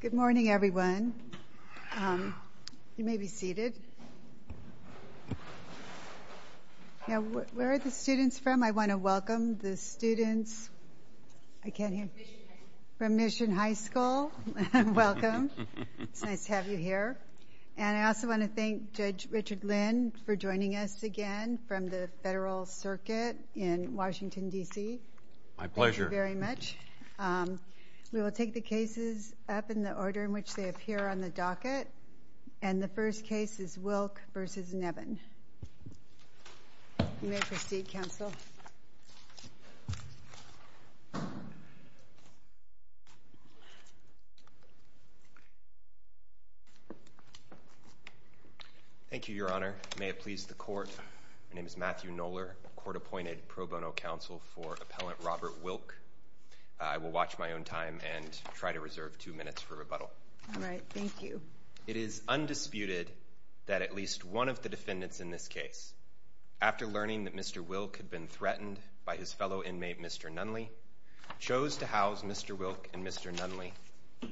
Good morning, everyone. You may be seated. Now, where are the students from? I want to welcome the students. I can't hear. From Mission High School. From Mission High School. Welcome. It's nice to have you here. And I also want to thank Judge Richard Lynn for joining us again from the Federal Circuit in Washington, D.C. My pleasure. Thank you very much. We will take the cases up in the order in which they appear on the docket. And the first case is Wilk v. Neven. You may proceed, counsel. Thank you, Your Honor. May it please the court. My name is Matthew Knoller, court appointed pro bono counsel for Appellant Robert Wilk. I will watch my own time and try to reserve two minutes for rebuttal. All right. Thank you. It is undisputed that at least one of the defendants in this case, after learning that Mr. Wilk had been threatened by his fellow inmate, Mr. Nunley, chose to house Mr. Wilk and Mr. Nunley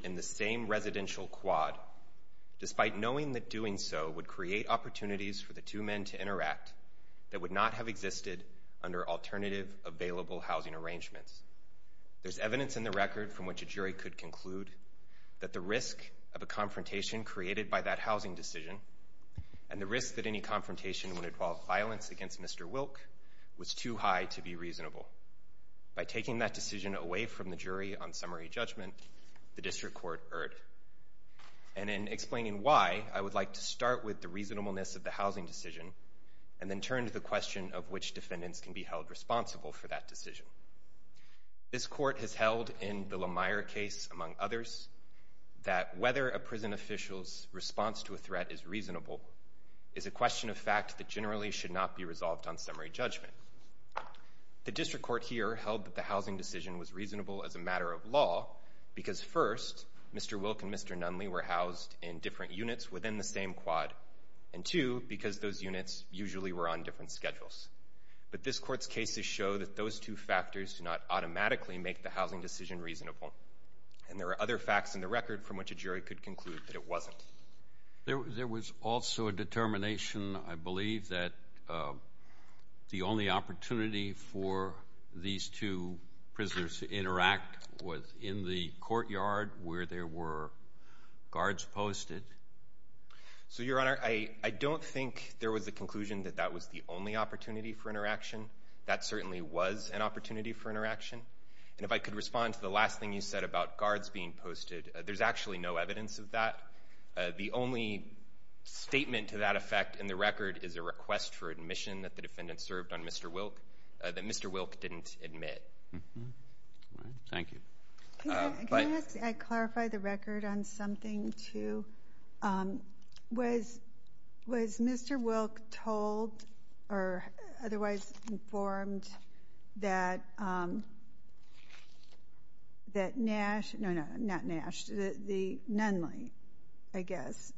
in the same residential quad, despite knowing that doing so would create opportunities for the two men to interact that would not have existed under alternative available housing arrangements. There's evidence in the record from which a jury could conclude that the risk of a confrontation created by that housing decision and the risk that any confrontation would involve violence against Mr. Wilk was too high to be reasonable. By taking that decision away from the jury on summary judgment, the district court erred. And in explaining why, I would like to start with the reasonableness of the housing decision and then turn to the question of which defendants can be held responsible for that decision. This court has held in the LaMire case, among others, that whether a prison official's response to a threat is reasonable is a question of fact that generally should not be resolved on summary judgment. The district court here held that the housing decision was reasonable as a matter of law, because first, Mr. Wilk and Mr. Nunley were housed in different units within the same quad. And two, because those units usually were on different schedules. But this court's cases show that those two factors do not automatically make the housing decision reasonable. And there are other facts in the record from which a jury could conclude that it wasn't. There was also a determination, I believe, that the only opportunity for these two prisoners to interact was in the courtyard where there were guards posted. So, Your Honor, I don't think there was a conclusion that that was the only opportunity for interaction. That certainly was an opportunity for interaction. And if I could respond to the last thing you said about guards being posted, there's actually no evidence of that. The only statement to that effect in the record is a request for admission that the defendant served on Mr. Wilk that Mr. Wilk didn't admit. Thank you. Can I clarify the record on something, too? Was Mr. Wilk told or otherwise informed that that Nash, no, no, not Nash, the Nunley, I guess,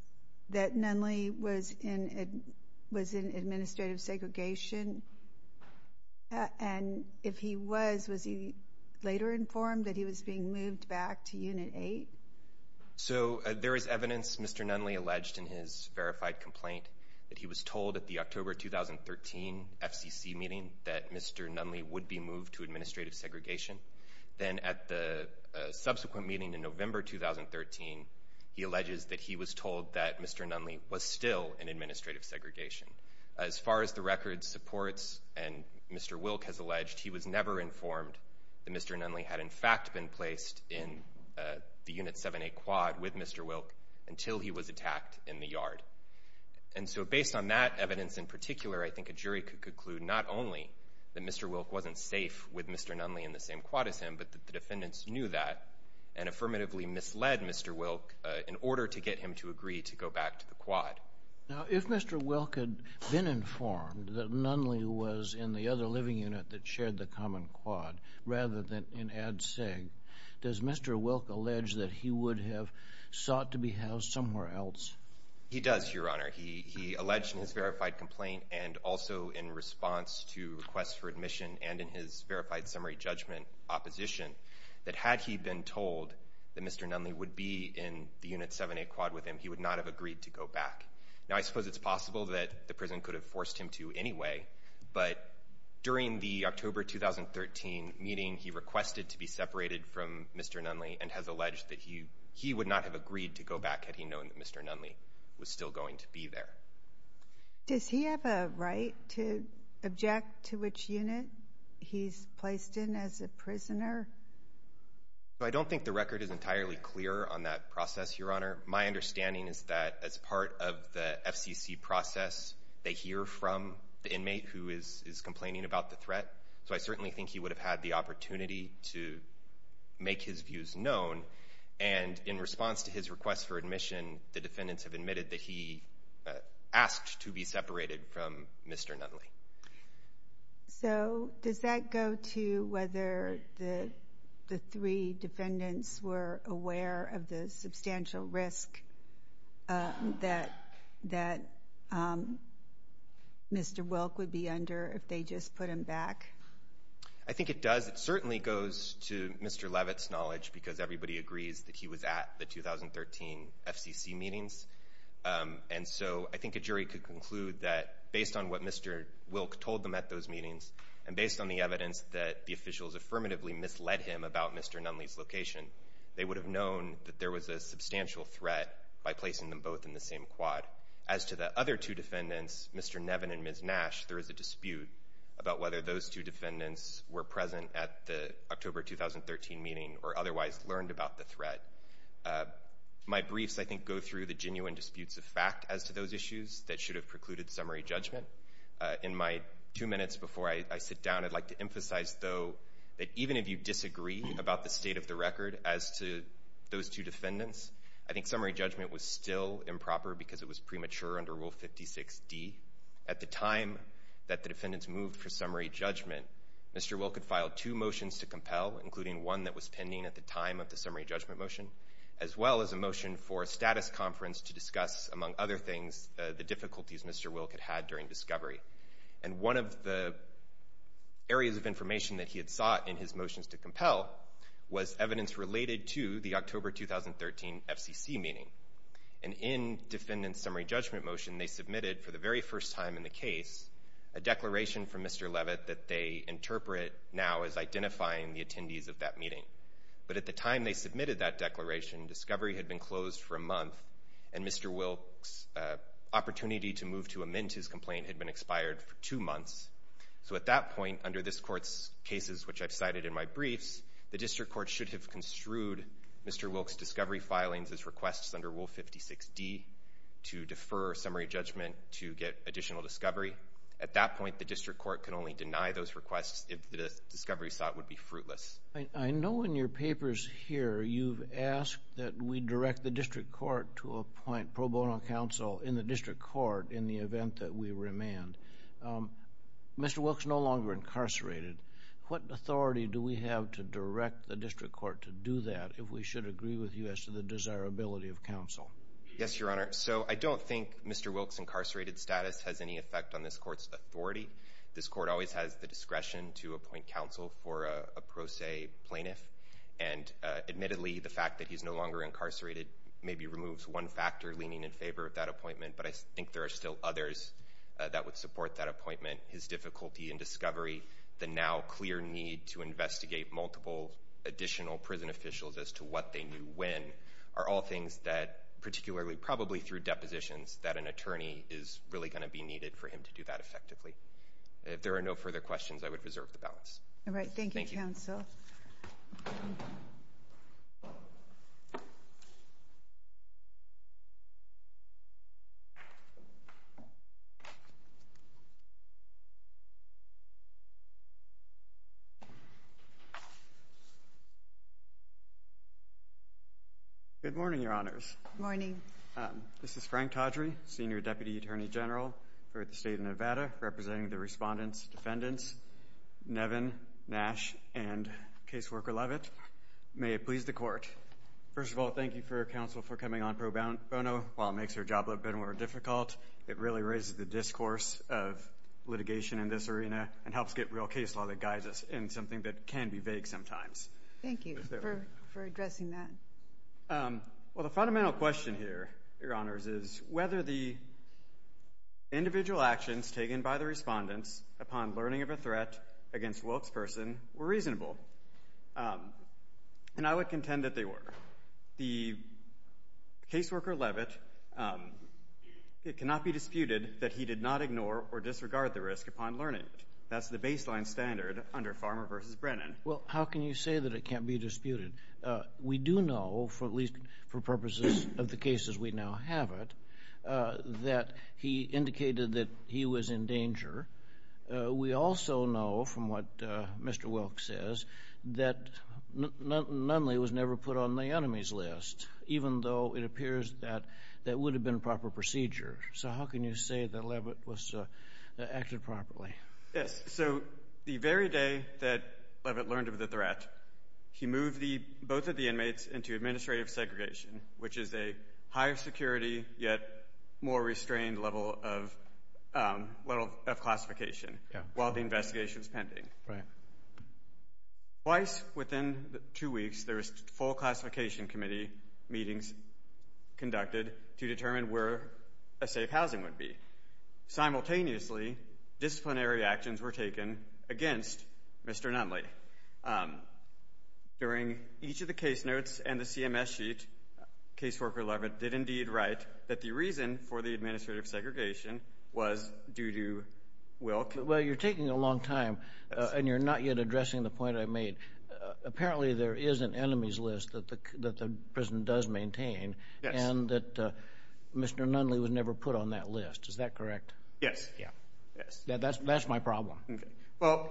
that Nunley was in administrative segregation? And if he was, was he later informed that he was being moved back to Unit 8? So there is evidence Mr. Nunley alleged in his verified complaint that he was told at the October 2013 FCC meeting that Mr. Nunley would be moved to administrative segregation. Then at the subsequent meeting in November 2013, he alleges that he was told that Mr. Nunley was still in administrative segregation. As far as the record supports, and Mr. Wilk has alleged, he was never informed that Mr. Nunley had in fact been placed in the Unit 7A quad with Mr. Wilk until he was attacked in the yard. And so based on that evidence in particular, I think a jury could conclude not only that Mr. Wilk wasn't safe with Mr. Nunley in the same quad as him, but that the defendants knew that and affirmatively misled Mr. Wilk in order to get him to agree to go back to the quad. Now, if Mr. Wilk had been informed that Nunley was in the other living unit that shared the common quad rather than in Ad Seg, does Mr. Wilk allege that he would have sought to be housed somewhere else? He does, Your Honor. He alleged in his verified complaint and also in response to requests for admission and in his verified summary judgment opposition, that had he been told that Mr. Nunley would be in the Unit 7A quad with him, he would not have agreed to go back. Now, I suppose it's possible that the prison could have forced him to anyway, but during the October 2013 meeting, he requested to be separated from Mr. Nunley and has alleged that he would not have agreed to go back had he known that Mr. Nunley was still going to be there. Does he have a right to object to which unit he's placed in as a prisoner? I don't think the record is entirely clear on that process, Your Honor. My understanding is that as part of the FCC process, they hear from the inmate who is complaining about the threat. So I certainly think he would have had the opportunity to make his views known. And in response to his request for admission, the defendants have admitted that he asked to be separated from Mr. Nunley. So does that go to whether the three defendants were aware of the substantial risk that Mr. Wilk would be under if they just put him back? I think it does. It certainly goes to Mr. Levitt's knowledge because everybody agrees that he was at the 2013 FCC meetings. And so I think a jury could conclude that based on what Mr. Wilk told them at those meetings, and based on the evidence that the officials affirmatively misled him about Mr. Nunley's location, they would have known that there was a substantial threat by placing them both in the same quad. As to the other two defendants, Mr. Nevin and Ms. Nash, there is a dispute about whether those two defendants were present at the October 2013 meeting or otherwise learned about the threat. My briefs, I think, go through the genuine disputes of fact as to those issues that should have precluded summary judgment. In my two minutes before I sit down, I'd like to emphasize, though, that even if you disagree about the state of the record as to those two defendants, I think summary judgment was still improper because it was premature under Rule 56D. At the time that the defendants moved for summary judgment, Mr. Wilk had filed two motions to compel, including one that was pending at the time of the summary judgment motion, as well as a motion for a status conference to discuss, among other things, the difficulties Mr. Wilk had had during discovery. And one of the areas of information that he had sought in his motions to compel was evidence related to the October 2013 FCC meeting. And in defendant's summary judgment motion, they submitted, for the very first time in the case, a declaration from Mr. Levitt that they interpret now as identifying the attendees of that meeting. But at the time they submitted that declaration, discovery had been closed for a month, and Mr. Wilk's opportunity to move to amend his complaint had been expired for two months. So at that point, under this court's cases, which I've cited in my briefs, the district court should have construed Mr. Wilk's discovery filings as requests under Rule 56D to defer summary judgment to get additional discovery. At that point, the district court can only deny those requests if the discovery sought would be fruitless. I know in your papers here you've asked that we direct the district court to appoint pro bono counsel in the district court in the event that we remand. Mr. Wilk's no longer incarcerated. What authority do we have to direct the district court to do that if we should agree with you as to the desirability of counsel? Yes, Your Honor. So I don't think Mr. Wilk's incarcerated status has any effect on this court's authority. This court always has the discretion to appoint counsel for a pro se plaintiff. And admittedly, the fact that he's no longer incarcerated maybe removes one factor leaning in favor of that appointment. But I think there are still others that would support that appointment. His difficulty in discovery, the now clear need to investigate multiple additional prison officials as to what they knew when, are all things that, particularly probably through depositions, that an attorney is really going to be able to assess effectively. If there are no further questions, I would reserve the balance. All right, thank you, counsel. Good morning, Your Honors. Morning. This is Frank Todry, Senior Deputy Attorney General for the state of Nevada, representing the respondents, defendants, Nevin, Nash, and caseworker Levitt. May it please the court. First of all, thank you for your counsel for coming on pro bono while it makes your job a little bit more difficult. It really raises the discourse of litigation in this arena and helps get real case law that guides us in something that can be vague sometimes. Thank you for addressing that. Well, the fundamental question here, Your Honors, is whether the individual actions taken by the respondents upon learning of a threat against Wilk's person were reasonable, and I would contend that they were. The caseworker Levitt, it cannot be disputed that he did not ignore or disregard the risk upon learning it. That's the baseline standard under Farmer v. Brennan. Well, how can you say that it can't be disputed? We do know, at least for purposes of the cases we now have it, that he indicated that he was in danger. We also know, from what Mr. Wilk says, that Nunley was never put on the enemies list, even though it appears that that would have been a proper procedure. So how can you say that Levitt acted properly? Yes. So the very day that Levitt learned of the threat, he moved both of the inmates into administrative segregation, which is a higher security, yet more restrained level of classification, while the investigation was pending. Twice within two weeks, there was full classification committee meetings conducted to determine where a safe housing would be. Simultaneously, disciplinary actions were taken against Mr. Nunley. During each of the case notes and the CMS sheet, caseworker Levitt did indeed write that the reason for the administrative segregation was due to Wilk. Well, you're taking a long time, and you're not yet addressing the point I made. Apparently, there is an enemies list that the prison does maintain, and that Mr. Nunley was never put on that list. Is that correct? Yes. Yes. That's my problem. Okay. Well,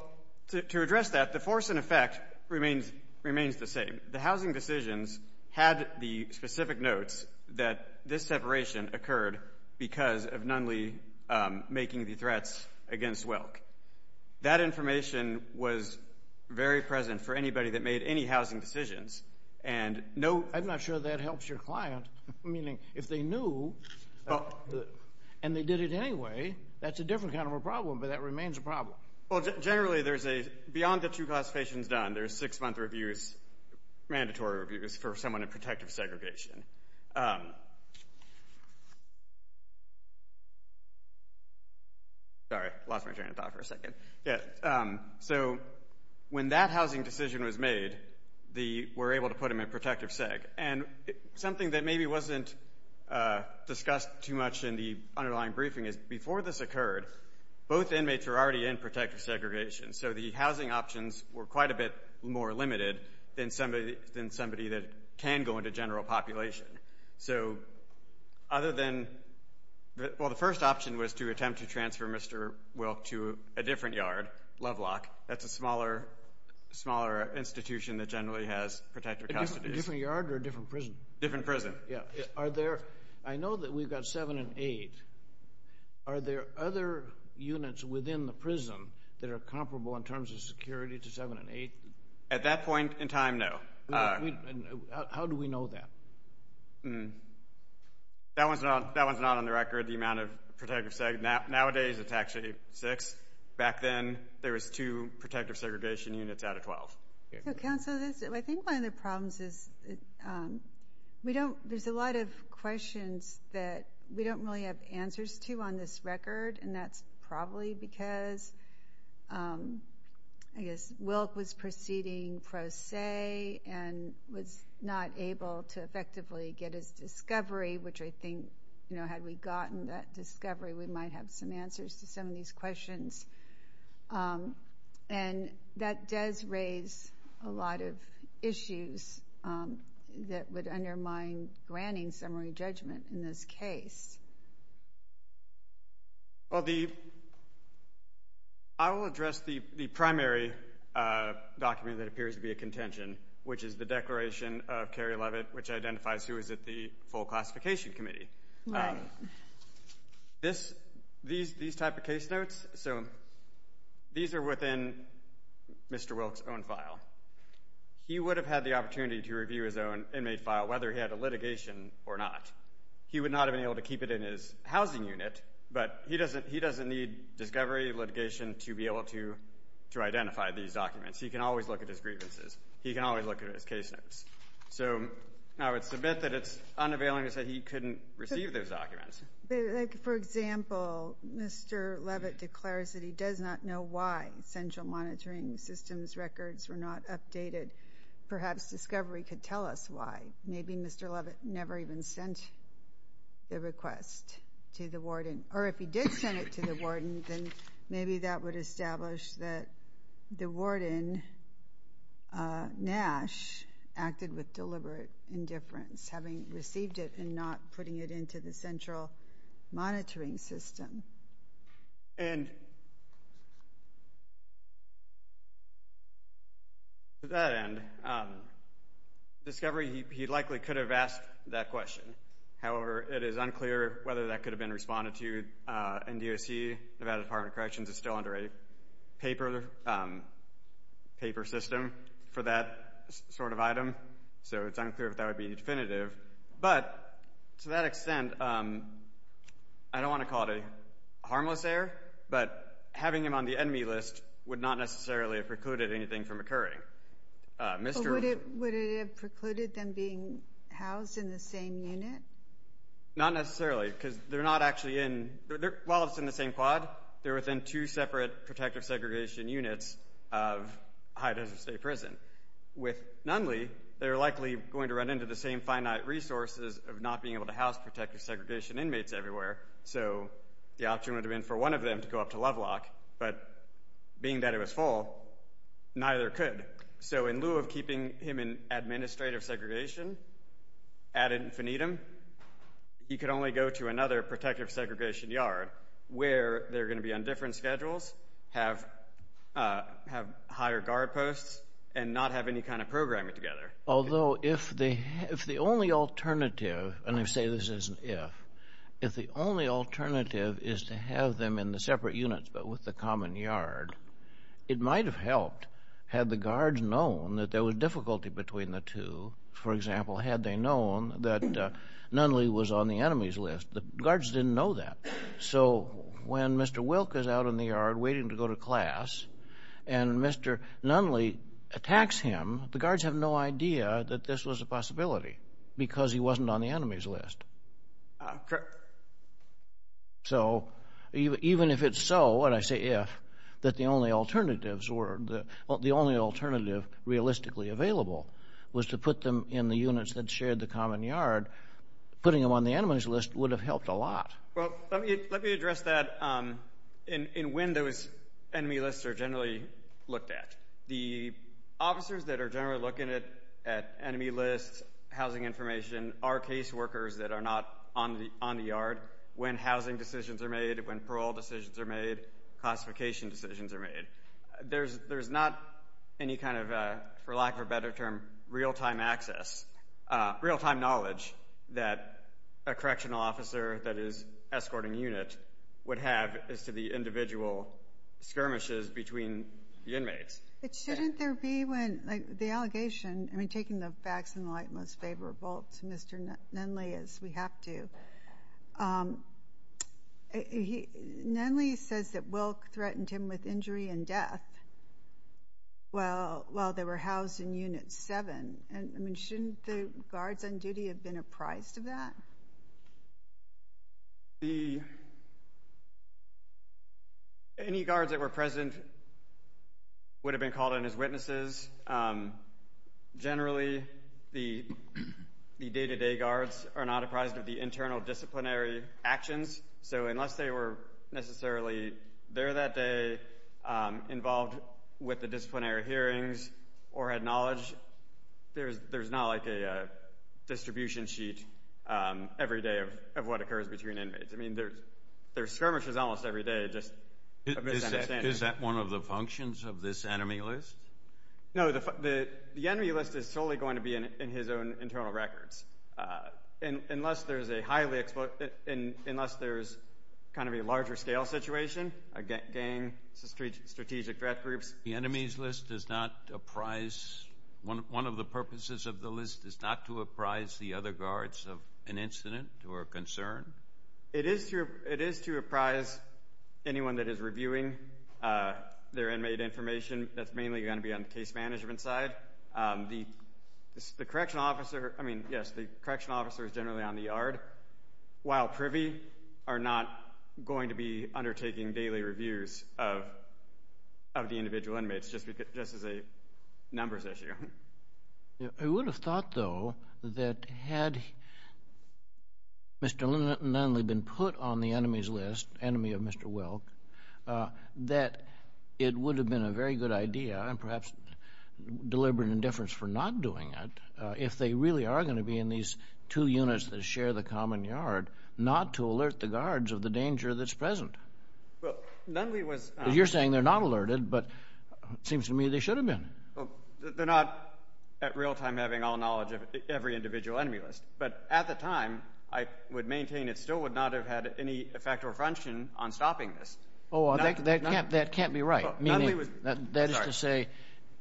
to address that, the force and effect remains the same. The housing decisions had the specific notes that this separation occurred because of Nunley making the threats against Wilk. That information was very present for anybody that made any housing decisions, and no— I'm not sure that helps your client, meaning if they knew, and they did it anyway, that's a different kind of a problem, but that remains a problem. Well, generally, there's a—beyond the two classifications done, there's six-month reviews—mandatory reviews—for someone in protective segregation. Sorry. I lost my train of thought for a second. So when that housing decision was made, we were able to put them in protective seg, and something that maybe wasn't discussed too much in the underlying briefing is before this occurred, both inmates were already in protective segregation. So the housing options were quite a bit more limited than somebody that can go into general population. So other than—well, the first option was to attempt to transfer Mr. Wilk to a different yard, Lovelock, that's a smaller institution that generally has protective custody. A different yard or a different prison? Different prison. Yeah. Are there—I know that we've got seven and eight. Are there other units within the prison that are comparable in terms of security to seven and eight? At that point in time, no. How do we know that? That one's not on the record, the amount of protective—nowadays, it's actually six. Back then, there was two protective segregation units out of 12. So, Counsel, I think one of the problems is we don't—there's a lot of answers to on this record, and that's probably because, I guess, Wilk was proceeding pro se and was not able to effectively get his discovery, which I think, you know, had we gotten that discovery, we might have some answers to some of these questions. And that does raise a lot of issues that would undermine granting summary judgment in this case. Well, the—I will address the primary document that appears to be a contention, which is the declaration of Carrie Leavitt, which identifies who is at the full classification committee. Right. This—these type of case notes, so these are within Mr. Wilk's own file. He would have had the opportunity to review his own inmate file, whether he had a litigation or not. He would not have been able to keep it in his housing unit, but he doesn't—he doesn't need discovery, litigation to be able to identify these documents. He can always look at his grievances. He can always look at his case notes. So I would submit that it's unavailing to say he couldn't receive those documents. But, like, for example, Mr. Leavitt declares that he does not know why central monitoring systems records were not updated. Perhaps discovery could tell us why. Maybe Mr. Leavitt never even sent the request to the warden. Or if he did send it to the warden, then maybe that would establish that the warden, Nash, acted with deliberate indifference, having received it and not putting it into the central monitoring system. And to that end, discovery, he likely could have asked that question. However, it is unclear whether that could have been responded to in DOC. Nevada Department of Corrections is still under a paper system for that sort of item, so it's unclear if that would be definitive. But to that extent, I don't want to call it a harmless error, but having him on the enemy list would not necessarily have precluded anything from occurring. Mr. — But would it have precluded them being housed in the same unit? Not necessarily, because they're not actually in — while it's in the same quad, they're within two separate protective segregation units of High Desert State Prison. With Nunley, they're likely going to run into the same finite resources of not being able to house protective segregation inmates everywhere. So the option would have been for one of them to go up to Lovelock, but being that it was full, neither could. So in lieu of keeping him in administrative segregation ad infinitum, he could only go to another protective segregation yard where they're going to be on different schedules, have higher guard posts, and not have any kind of programming together. Although if the only alternative — and I say this as an if — if the only alternative is to have them in the separate units but with the common yard, it might have helped had the guards known that there was difficulty between the two. For example, had they known that Nunley was on the enemy's list. The guards didn't know that. So when Mr. Wilk is out in the yard waiting to go to class and Mr. Nunley attacks him, the guards have no idea that this was a possibility because he wasn't on the enemy's list. Correct. So even if it's so, and I say if, that the only alternatives were — the only alternative realistically available was to put them in the units that shared the common yard, putting them on the enemy's list would have helped a lot. Well, let me address that in when those enemy lists are generally looked at. The officers that are generally looking at enemy lists, housing information, are caseworkers that are not on the yard when housing decisions are made, when parole decisions are made, classification decisions are made. There's not any kind of, for lack of a better term, real-time access, real-time knowledge that a correctional officer that is escorting a unit would have as to the individual skirmishes between the inmates. But shouldn't there be when, like, the allegation — I mean, taking the facts in the light, most favorable to Mr. Nunley as we have to — Nunley says that Wilk threatened him with injury and death while they were housed in Unit 7. And, I mean, shouldn't the guards on duty have been apprised of that? The — any guards that were present would have been called on as witnesses. Generally, the day-to-day guards are not apprised of the internal disciplinary actions, so unless they were necessarily there that day, involved with the There's not, like, a distribution sheet every day of what occurs between inmates. I mean, there's skirmishes almost every day, just a misunderstanding. Is that one of the functions of this enemy list? No, the enemy list is solely going to be in his own internal records. Unless there's a highly — unless there's kind of a larger-scale situation — a gang, strategic threat groups — The enemies list does not apprise — one of the purposes of the list is not to apprise the other guards of an incident or a concern? It is to apprise anyone that is reviewing their inmate information. That's mainly going to be on the case management side. The correctional officer — I mean, yes, the correctional officer is generally on the yard, while privy are not going to be undertaking daily reviews of the individual inmates, just as a numbers issue. I would have thought, though, that had Mr. Nunley been put on the enemies list, enemy of Mr. Welk, that it would have been a very good idea, and perhaps deliberate indifference for not doing it, if they really are going to be in these two units that share the common yard, not to alert the guards of the danger that's present. Well, Nunley was — Well, you're saying they're not alerted, but it seems to me they should have been. They're not, at real time, having all knowledge of every individual enemy list. But at the time, I would maintain it still would not have had any effect or function on stopping this. Oh, that can't be right. Nunley was — That is to say,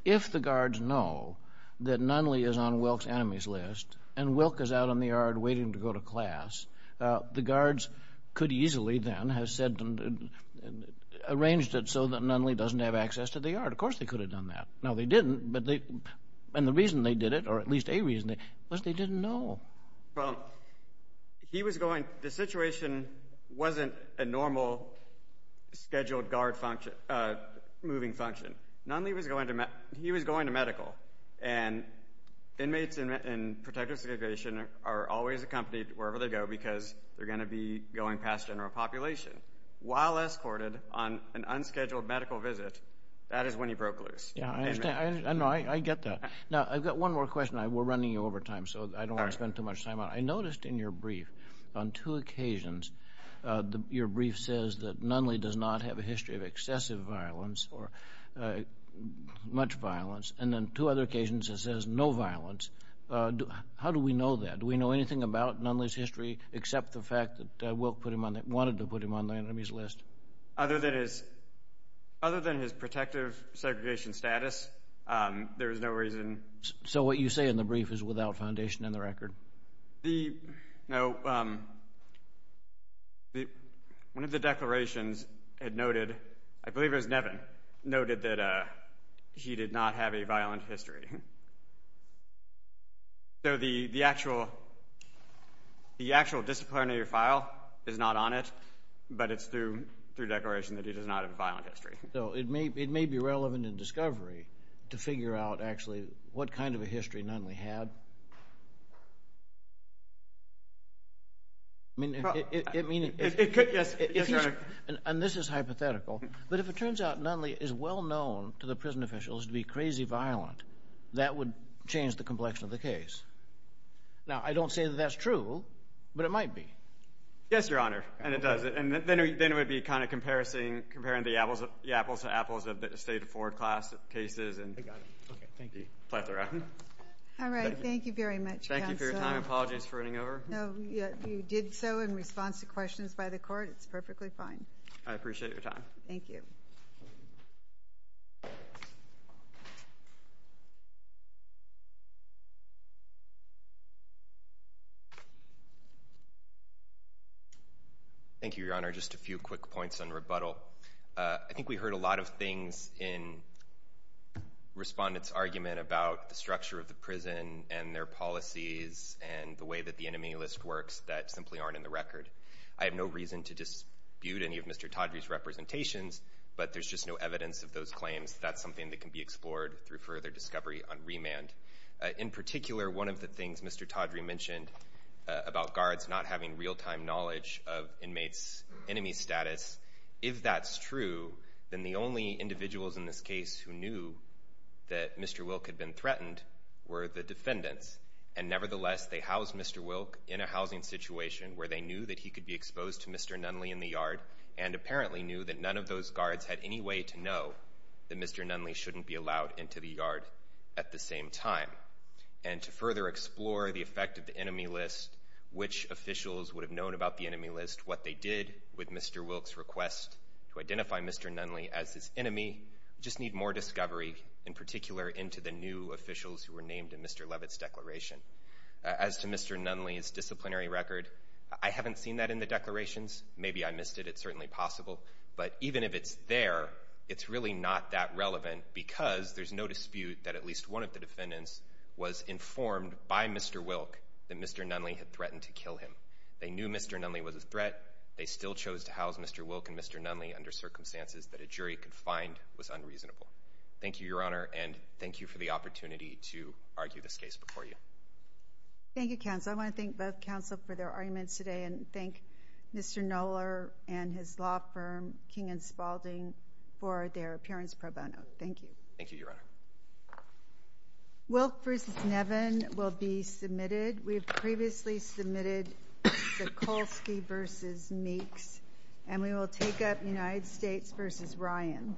if the guards know that Nunley is on Welk's enemies list, and Welk is out on the yard waiting to go to class, the guards could easily, then, have said — arranged it so that Nunley doesn't have access to the yard. Of course they could have done that. No, they didn't. And the reason they did it, or at least a reason, was they didn't know. Well, he was going — the situation wasn't a normal scheduled guard function — moving function. Nunley was going to — he was going to medical. And inmates in protective segregation are always accompanied wherever they go because they're going to be going past general population. While escorted on an unscheduled medical visit, that is when he broke loose. Yeah, I understand. I know. I get that. Now, I've got one more question. We're running over time, so I don't want to spend too much time on it. I noticed in your brief, on two occasions, your brief says that Nunley does not have a history of excessive violence or much violence. And then two other occasions it says no violence. How do we know that? Do we know anything about Nunley's history except the fact that Wilk wanted to put him on the enemy's list? Other than his protective segregation status, there is no reason. So what you say in the brief is without foundation in the record? No. One of the declarations had noted — I believe it was Nevin — noted that he did not have a violent history. So the actual disciplinary file is not on it, but it's through declaration that he does not have a violent history. So it may be relevant in discovery to figure out, actually, what kind of a history Nunley had. I mean, it could — Yes, Your Honor. And this is hypothetical. But if it turns out Nunley is well known to the prison officials to be crazy violent, that would change the complexion of the case. Now, I don't say that that's true, but it might be. Yes, Your Honor. And it does. And then it would be kind of comparing the apples to apples of the state of Florida class cases and the plethora. All right. Thank you very much, counsel. Thank you for your time. Apologies for running over. No, you did so in response to questions by the court. It's perfectly fine. I appreciate your time. Thank you. Thank you. Thank you, Your Honor. Just a few quick points on rebuttal. I think we heard a lot of things in respondents' argument about the structure of the prison and their policies and the way that the enemy list works that simply aren't in the record. I have no reason to dispute any of Mr. Todry's representations, but there's just no evidence of those claims. That's something that can be explored through further discovery on remand. In particular, one of the things Mr. Todry mentioned about guards not having real-time knowledge of inmates' enemy status, if that's true, then the only individuals in this case who knew that Mr. Wilk had been threatened were the defendants. And nevertheless, they housed Mr. Wilk in a housing situation where they knew that he could be exposed to Mr. Nunley in the yard and apparently knew that none of those guards had any way to know that Mr. Nunley shouldn't be allowed into the yard at the same time. And to further explore the effect of the enemy list, which officials would have known about the enemy list, what they did with Mr. Wilk's request to identify Mr. Nunley as his enemy, we just need more discovery, in particular, into the new officials who were named in Mr. Levitt's declaration. As to Mr. Nunley's disciplinary record, I haven't seen that in the declarations. Maybe I missed it. It's certainly possible. But even if it's there, it's really not that relevant because there's no dispute that at least one of the defendants was informed by Mr. Wilk that Mr. Nunley had threatened to kill him. They knew Mr. Nunley was a threat. They still chose to house Mr. Wilk and Mr. Nunley under circumstances that a jury could find was unreasonable. Thank you, Your Honor, and thank you for the opportunity to argue this case before you. Thank you, counsel. I want to thank both counsel for their arguments today and thank Mr. Knoller and his law firm, King & Spalding, for their appearance pro bono. Thank you. Thank you, Your Honor. Wilk v. Nevin will be submitted. We have previously submitted Sikulski v. Meeks, and we will take up United States v. Ryan.